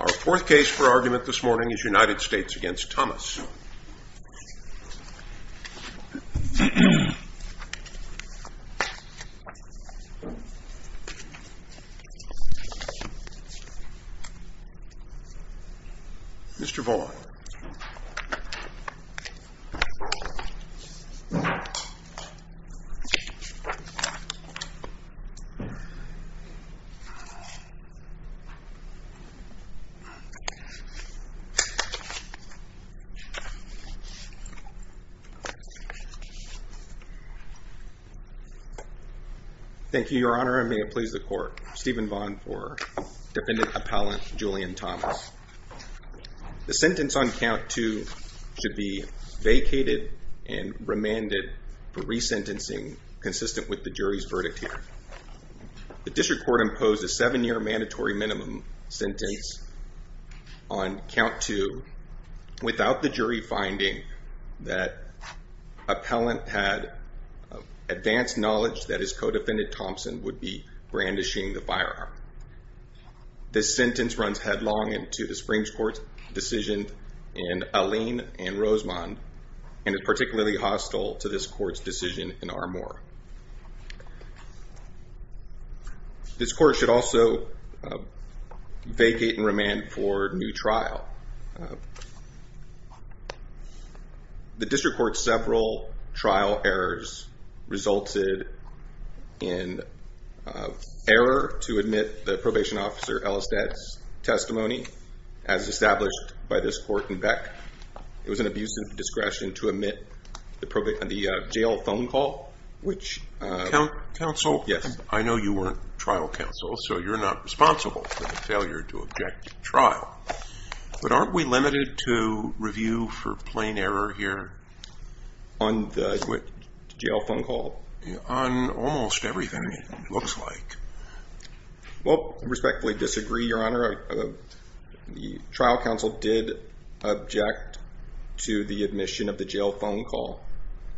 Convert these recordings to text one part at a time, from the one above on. Our fourth case for argument this morning is United States v. Thomas. Mr. Vaughan. Thank you, Your Honor, and may it please the Court. Stephen Vaughan for Defendant Appellant Julian Thomas. The sentence on count two should be vacated and remanded for resentencing consistent with the jury's verdict here. The District Court imposed a seven-year mandatory minimum sentence on count two without the jury finding that Appellant had advanced knowledge that his co-defendant, Thompson, would be brandishing the firearm. This sentence runs headlong into the Supreme Court's decision in Alleyne v. Rosemond and is particularly hostile to this Court's decision in Armour. This Court should also vacate and remand for new trial. The District Court's several trial errors resulted in error to admit the Probation Officer Ellestad's testimony, as established by this Court in Beck. It was an abuse of discretion to admit the jail phone call, which… I know you weren't trial counsel, so you're not responsible for the failure to object to trial. But aren't we limited to review for plain error here? On the jail phone call? On almost everything, it looks like. Well, I respectfully disagree, Your Honor. The trial counsel did object to the admission of the jail phone call.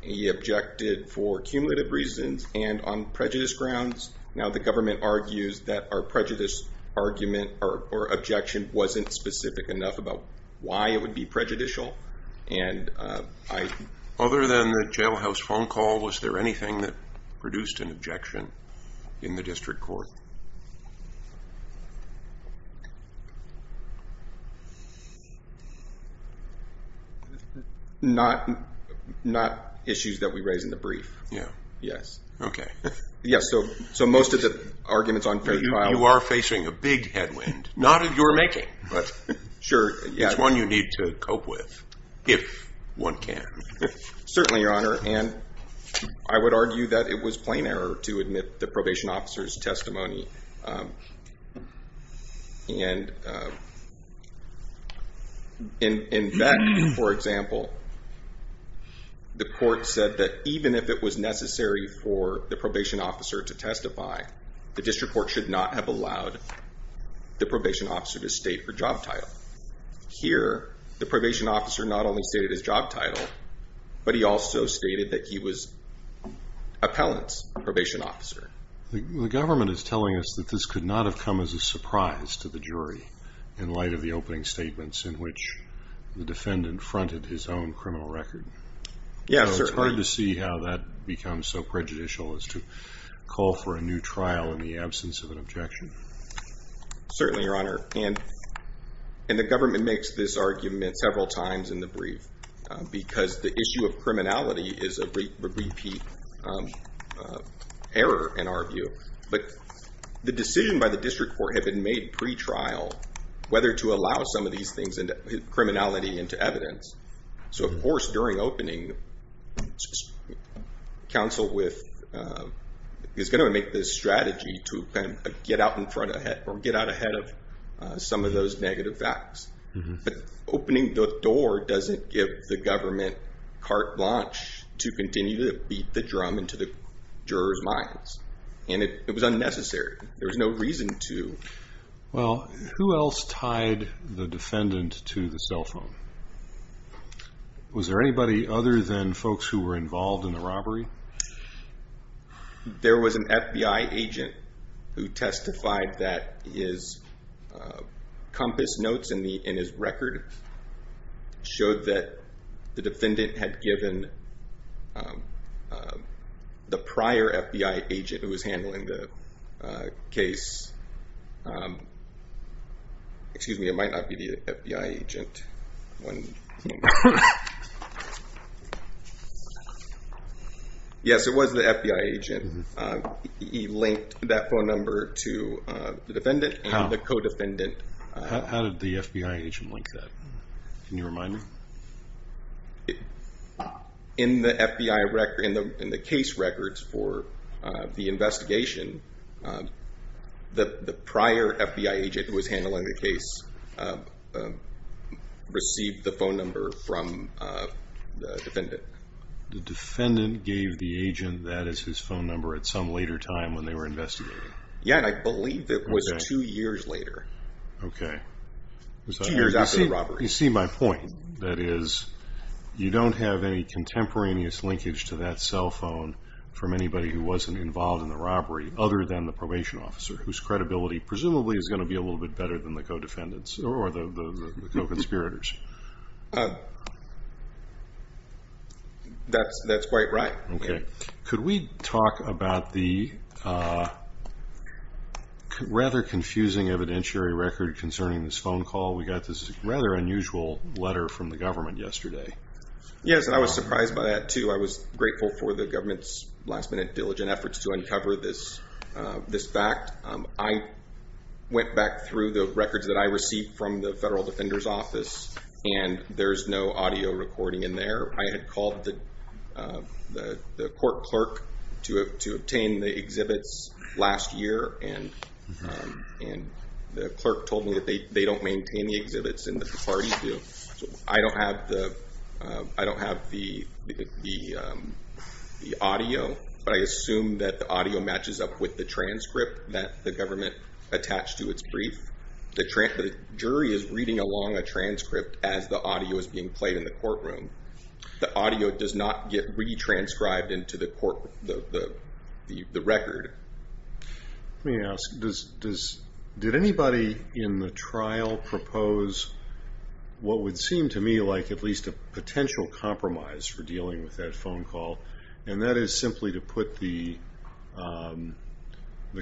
He objected for cumulative reasons and on prejudice grounds. Now, the government argues that our prejudice argument or objection wasn't specific enough about why it would be prejudicial, and I… Other than the jailhouse phone call, was there anything that produced an objection in the District Court? Not issues that we raise in the brief, yes. Okay. Yes, so most of the arguments on… You are facing a big headwind. Not in your making, but it's one you need to cope with, if one can. Certainly, Your Honor, and I would argue that it was plain error to admit the Probation Officer's testimony, and in that, for example, the court said that even if it was necessary for the Probation Officer to testify, the District Court should not have allowed the Probation Officer to state her job title. Here, the Probation Officer not only stated his job title, but he also stated that he was an appellant's probation officer. The government is telling us that this could not have come as a surprise to the jury in light of the opening statements in which the defendant fronted his own criminal record. Yes, certainly. It's hard to see how that becomes so prejudicial as to call for a new trial in the absence of an objection. Certainly, Your Honor, and the government makes this argument several times in the brief because the issue of criminality is a repeat error, in our view. But the decision by the District Court had been made pre-trial, whether to allow some of these things, criminality into evidence. So, of course, during opening, counsel is going to make this strategy to get out in front ahead or get out ahead of some of those negative facts. But opening the door doesn't give the government carte blanche to continue to beat the drum into the jurors' minds. And it was unnecessary. There was no reason to. Well, who else tied the defendant to the cell phone? Was there anybody other than folks who were involved in the robbery? There was an FBI agent who testified that his compass notes in his record showed that the defendant had given the prior FBI agent who was handling the case. Excuse me, it might not be the FBI agent. Yes, it was the FBI agent. He linked that phone number to the defendant and the co-defendant. How did the FBI agent link that? Can you remind me? In the FBI record, in the case records for the investigation, the prior FBI agent who was handling the case received the phone number from the defendant. The defendant gave the agent that as his phone number at some later time when they were investigating. Yes, and I believe it was two years later. Okay. Two years after the robbery. You see my point. That is, you don't have any contemporaneous linkage to that cell phone from anybody who wasn't involved in the robbery. Other than the probation officer whose credibility presumably is going to be a little bit better than the co-defendants or the co-conspirators. That's quite right. Okay. Could we talk about the rather confusing evidentiary record concerning this phone call? We got this rather unusual letter from the government yesterday. Yes, and I was surprised by that too. I was grateful for the government's last minute diligent efforts to uncover this fact. I went back through the records that I received from the Federal Defender's Office, and there's no audio recording in there. I had called the court clerk to obtain the exhibits last year, and the clerk told me that they don't maintain the exhibits and that the parties do. I don't have the audio, but I assume that the audio matches up with the transcript that the government attached to its brief. The jury is reading along a transcript as the audio is being played in the courtroom. The audio does not get retranscribed into the record. Let me ask, did anybody in the trial propose what would seem to me like at least a potential compromise for dealing with that phone call, and that is simply to put the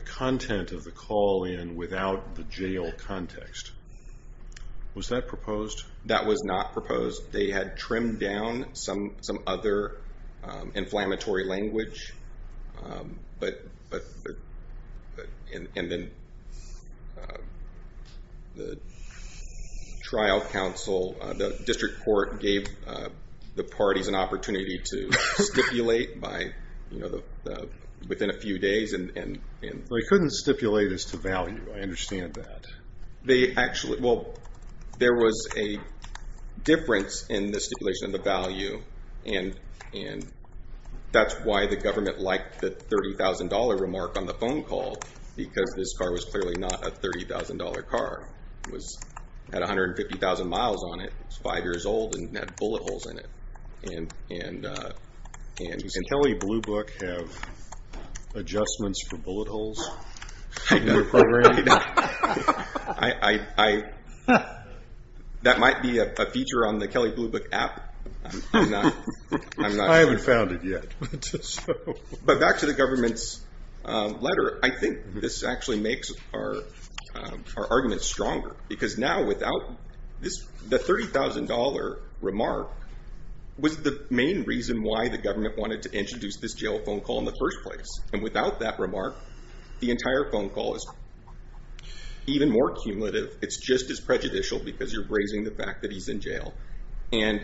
content of the call in without the jail context? Was that proposed? That was not proposed. They had trimmed down some other inflammatory language, and then the trial counsel, the district court, gave the parties an opportunity to stipulate within a few days. They couldn't stipulate as to value. I understand that. There was a difference in the stipulation of the value, and that's why the government liked the $30,000 remark on the phone call, because this car was clearly not a $30,000 car. It had 150,000 miles on it. It was five years old and had bullet holes in it. Does Kelley Blue Book have adjustments for bullet holes in their programming? I don't. That might be a feature on the Kelley Blue Book app. I haven't found it yet. But back to the government's letter, I think this actually makes our argument stronger, because now without this, the $30,000 remark was the main reason why the government wanted to introduce this jail phone call in the first place. And without that remark, the entire phone call is even more cumulative. It's just as prejudicial because you're raising the fact that he's in jail. And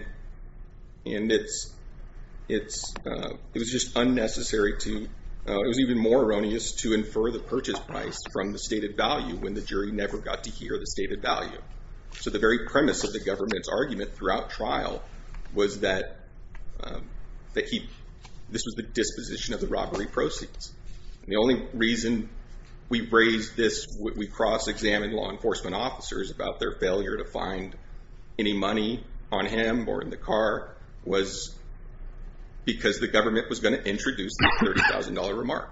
it was just unnecessary to, it was even more erroneous to infer the purchase price from the stated value when the jury never got to hear the stated value. So the very premise of the government's argument throughout trial was that this was the disposition of the robbery proceeds. And the only reason we raised this, we cross-examined law enforcement officers about their failure to find any money on him or in the car was because the government was going to introduce the $30,000 remark.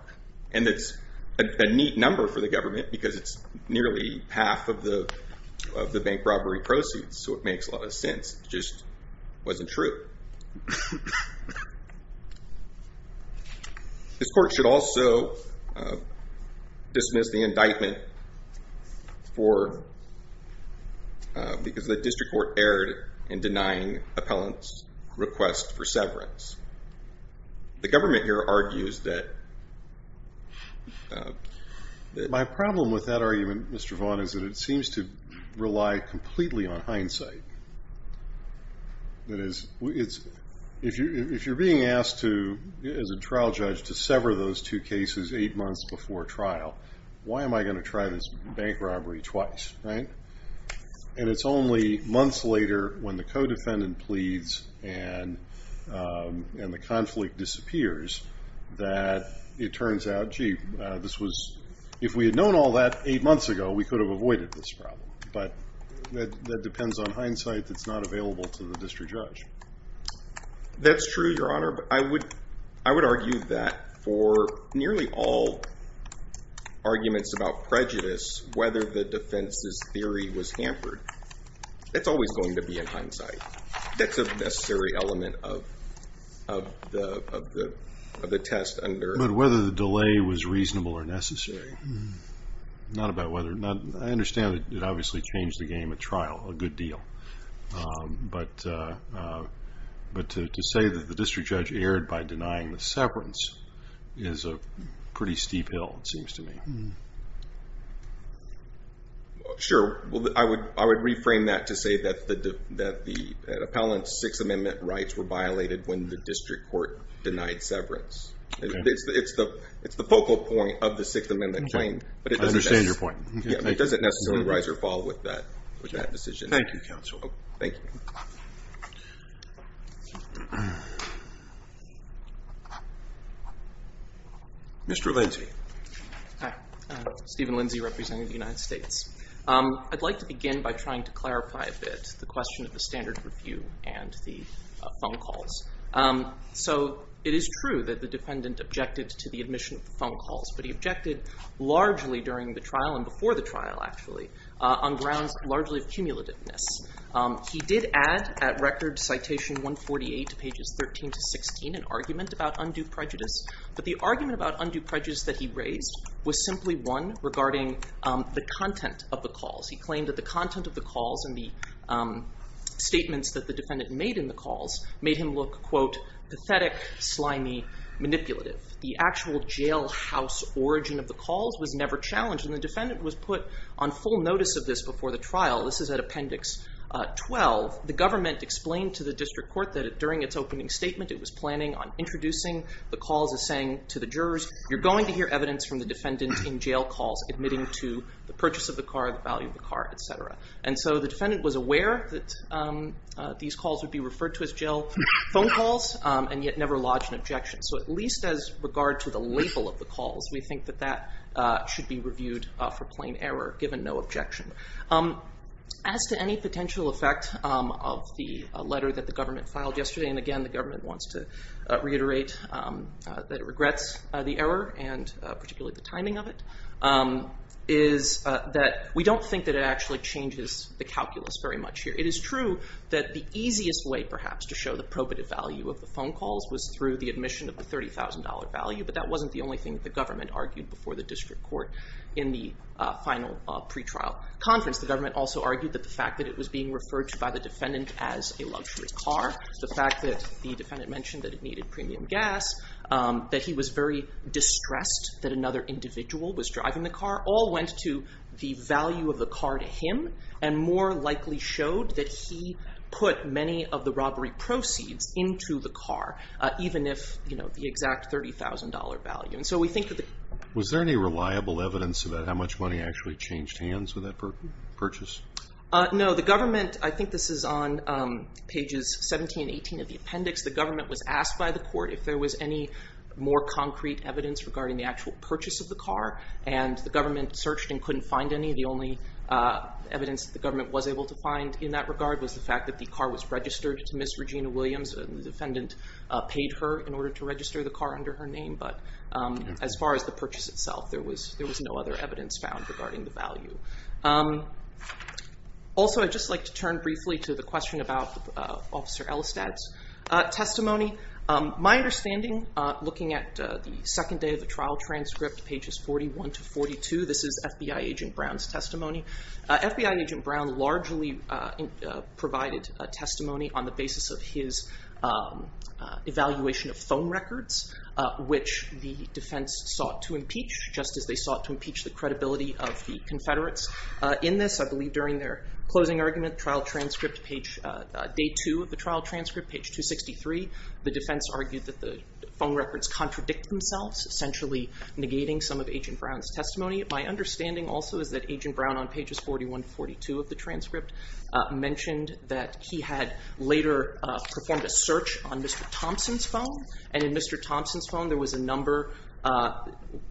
And it's a neat number for the government because it's nearly half of the bank robbery proceeds. So it makes a lot of sense. It just wasn't true. This court should also dismiss the indictment for, because the district court erred in denying appellant's request for severance. The government here argues that. My problem with that argument, Mr. Vaughn, is that it seems to rely completely on hindsight. That is, if you're being asked to, as a trial judge, to sever those two cases eight months before trial, why am I going to try this bank robbery twice, right? And it's only months later when the co-defendant pleads and the conflict disappears, that it turns out, gee, this was, if we had known all that eight months ago, we could have avoided this problem. But that depends on hindsight that's not available to the district judge. That's true, Your Honor. I would argue that for nearly all arguments about prejudice, whether the defense's theory was hampered, it's always going to be in hindsight. That's a necessary element of the test. But whether the delay was reasonable or necessary, not about whether. I understand that it obviously changed the game at trial a good deal. But to say that the district judge erred by denying the severance is a pretty steep hill, it seems to me. Sure. I would reframe that to say that the appellant's Sixth Amendment rights were violated when the district court denied severance. It's the focal point of the Sixth Amendment claim. I understand your point. It doesn't necessarily rise or fall with that decision. Thank you, counsel. Thank you. Mr. Lindsey. Hi. Stephen Lindsey, representative of the United States. I'd like to begin by trying to clarify a bit the question of the standard review and the phone calls. So it is true that the defendant objected to the admission of the phone calls. But he objected largely during the trial and before the trial, actually, on grounds largely of cumulativeness. He did add at Record Citation 148, pages 13 to 16, an argument about undue prejudice. But the argument about undue prejudice that he raised was simply one regarding the content of the calls. He claimed that the content of the calls and the statements that the defendant made in the calls made him look, quote, pathetic, slimy, manipulative. The actual jailhouse origin of the calls was never challenged, and the defendant was put on full notice of this before the trial. This is at Appendix 12. The government explained to the district court that during its opening statement it was planning on introducing the calls as saying to the jurors, you're going to hear evidence from the defendant in jail calls admitting to the purchase of the car, the value of the car, et cetera. And so the defendant was aware that these calls would be referred to as jail phone calls and yet never lodged an objection. So at least as regard to the label of the calls, we think that that should be reviewed for plain error, given no objection. As to any potential effect of the letter that the government filed yesterday, and again the government wants to reiterate that it regrets the error and particularly the timing of it, is that we don't think that it actually changes the calculus very much here. It is true that the easiest way perhaps to show the probative value of the phone calls was through the admission of the $30,000 value, but that wasn't the only thing that the government argued before the district court in the final pretrial conference. The government also argued that the fact that it was being referred to by the defendant as a luxury car, the fact that the defendant mentioned that it needed premium gas, that he was very distressed that another individual was driving the car, all went to the value of the car to him and more likely showed that he put many of the robbery proceeds into the car, even if, you know, the exact $30,000 value. And so we think that the... Was there any reliable evidence about how much money actually changed hands with that purchase? No, the government, I think this is on pages 17 and 18 of the appendix, the government was asked by the court if there was any more concrete evidence regarding the actual purchase of the car, and the government searched and couldn't find any. The only evidence the government was able to find in that regard was the fact that the car was registered to Miss Regina Williams. The defendant paid her in order to register the car under her name, but as far as the purchase itself, there was no other evidence found regarding the value. Also, I'd just like to turn briefly to the question about Officer Elistad's testimony. My understanding, looking at the second day of the trial transcript, pages 41 to 42, this is FBI Agent Brown's testimony. FBI Agent Brown largely provided testimony on the basis of his evaluation of phone records, which the defense sought to impeach, just as they sought to impeach the credibility of the Confederates. In this, I believe during their closing argument, trial transcript page, day two of the trial transcript, page 263, the defense argued that the phone records contradict themselves, essentially negating some of Agent Brown's testimony. My understanding also is that Agent Brown, on pages 41 to 42 of the transcript, mentioned that he had later performed a search on Mr. Thompson's phone, and in Mr. Thompson's phone, there was a number,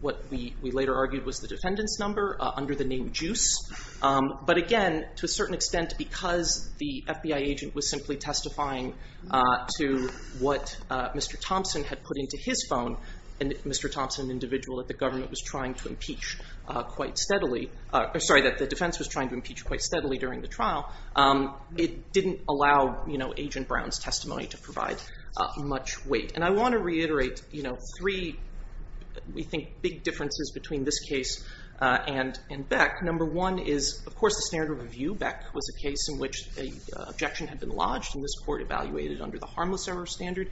what we later argued was the defendant's number, under the name Juice. But again, to a certain extent, because the FBI agent was simply testifying to what Mr. Thompson had put into his phone, and Mr. Thompson, an individual that the government was trying to impeach quite steadily, sorry, that the defense was trying to impeach quite steadily during the trial, it didn't allow Agent Brown's testimony to provide much weight. And I want to reiterate three, we think, big differences between this case and Beck. Number one is, of course, the standard of review. Beck was a case in which an objection had been lodged, and this court evaluated under the harmless error standard.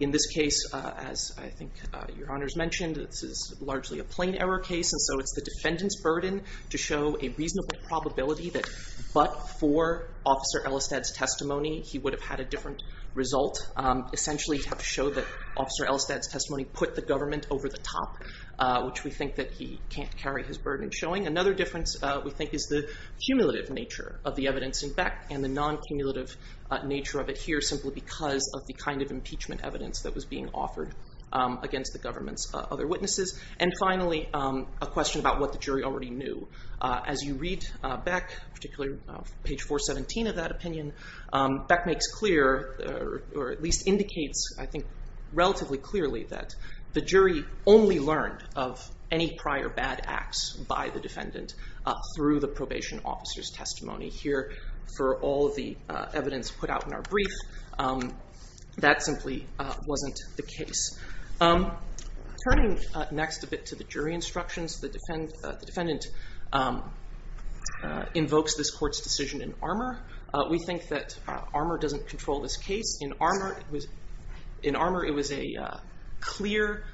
In this case, as I think Your Honors mentioned, this is largely a plain error case, and so it's the defendant's burden to show a reasonable probability that but for Officer Elistad's testimony, he would have had a different result. Essentially, he'd have to show that Officer Elistad's testimony put the government over the top, which we think that he can't carry his burden showing. Another difference, we think, is the cumulative nature of the evidence in Beck and the non-cumulative nature of it here, simply because of the kind of impeachment evidence that was being offered against the government's other witnesses. And finally, a question about what the jury already knew. As you read Beck, particularly page 417 of that opinion, Beck makes clear, or at least indicates, I think, relatively clearly that the jury only learned of any prior bad acts by the defendant through the probation officer's testimony. Here, for all of the evidence put out in our brief, that simply wasn't the case. Turning next a bit to the jury instructions, the defendant invokes this court's decision in armor. We think that armor doesn't control this case. In armor, it was a clear,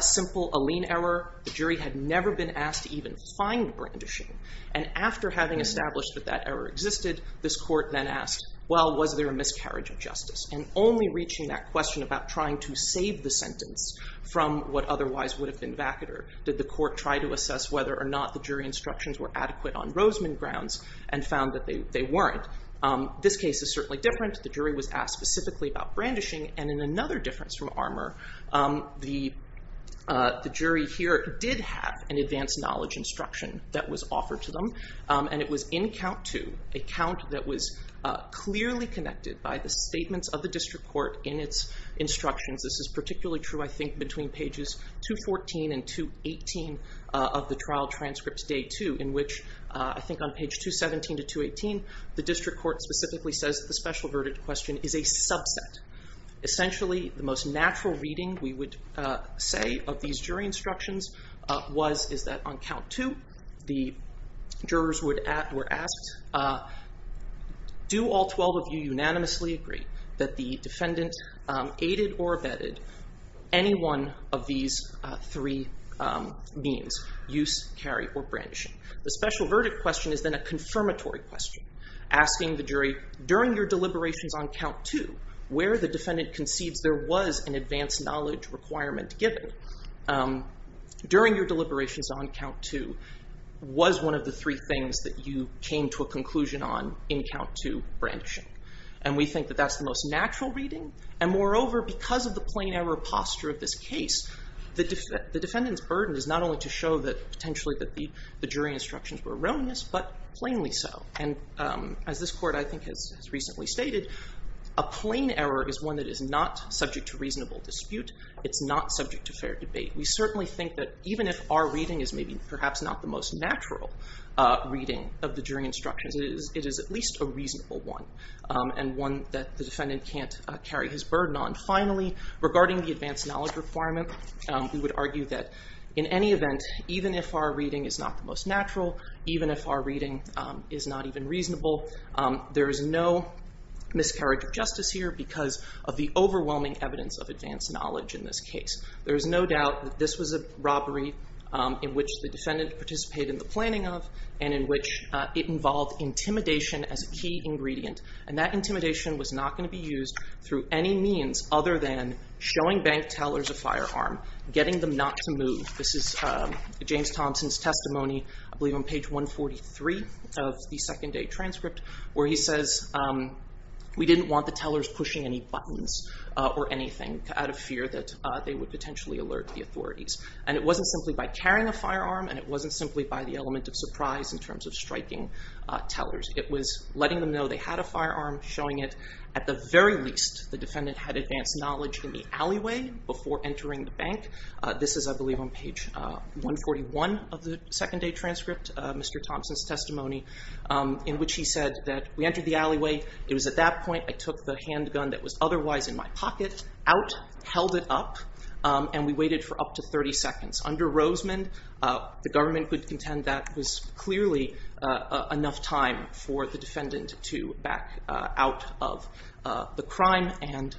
simple Allene error. The jury had never been asked to even find brandishing. And after having established that that error existed, this court then asked, well, was there a miscarriage of justice? And only reaching that question about trying to save the sentence from what otherwise would have been vacater, did the court try to assess whether or not the jury instructions were adequate on Rosman grounds and found that they weren't. This case is certainly different. The jury was asked specifically about brandishing. And in another difference from armor, the jury here did have an advanced knowledge instruction that was offered to them, and it was in count two, a count that was clearly connected by the statements of the district court in its instructions. This is particularly true, I think, between pages 214 and 218 of the trial transcripts day two, in which, I think, on page 217 to 218, the district court specifically says that the special verdict question is a subset. Essentially, the most natural reading, we would say, of these jury instructions was that on count two, the jurors were asked, do all 12 of you unanimously agree that the defendant aided or abetted any one of these three means, use, carry, or brandishing? The special verdict question is then a confirmatory question, asking the jury, during your deliberations on count two, where the defendant conceives there was an advanced knowledge requirement given during your deliberations on count two was one of the three things that you came to a conclusion on in count two, brandishing. And we think that that's the most natural reading. And moreover, because of the plain error posture of this case, the defendant's burden is not only to show potentially that the jury instructions were erroneous, but plainly so. And as this court, I think, has recently stated, a plain error is one that is not subject to reasonable dispute. It's not subject to fair debate. We certainly think that even if our reading is maybe perhaps not the most natural reading of the jury instructions, it is at least a reasonable one, and one that the defendant can't carry his burden on. Finally, regarding the advanced knowledge requirement, we would argue that in any event, even if our reading is not the most natural, even if our reading is not even reasonable, there is no miscarriage of justice here because of the overwhelming evidence of advanced knowledge in this case. There is no doubt that this was a robbery in which the defendant participated in the planning of, and in which it involved intimidation as a key ingredient. And that intimidation was not going to be used through any means other than showing bank tellers a firearm, getting them not to move. This is James Thompson's testimony, I believe on page 143 of the second day transcript, where he says, we didn't want the tellers pushing any buttons or anything out of fear that they would potentially alert the authorities. And it wasn't simply by carrying a firearm, and it wasn't simply by the element of surprise in terms of striking tellers. It was letting them know they had a firearm, showing it at the very least the defendant had advanced knowledge in the alleyway before entering the bank. This is, I believe, on page 141 of the second day transcript, Mr. Thompson's testimony, in which he said that we entered the alleyway, it was at that point I took the handgun that was otherwise in my pocket out, held it up, and we waited for up to 30 seconds. Under Rosemond, the government could contend that that was clearly enough time for the defendant to back out of the crime and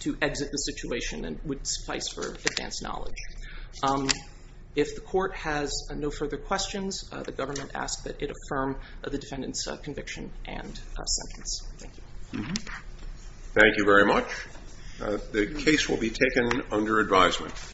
to exit the situation and would suffice for advanced knowledge. If the court has no further questions, the government asks that it affirm the defendant's conviction and sentence. Thank you. Thank you very much. The case will be taken under advisement.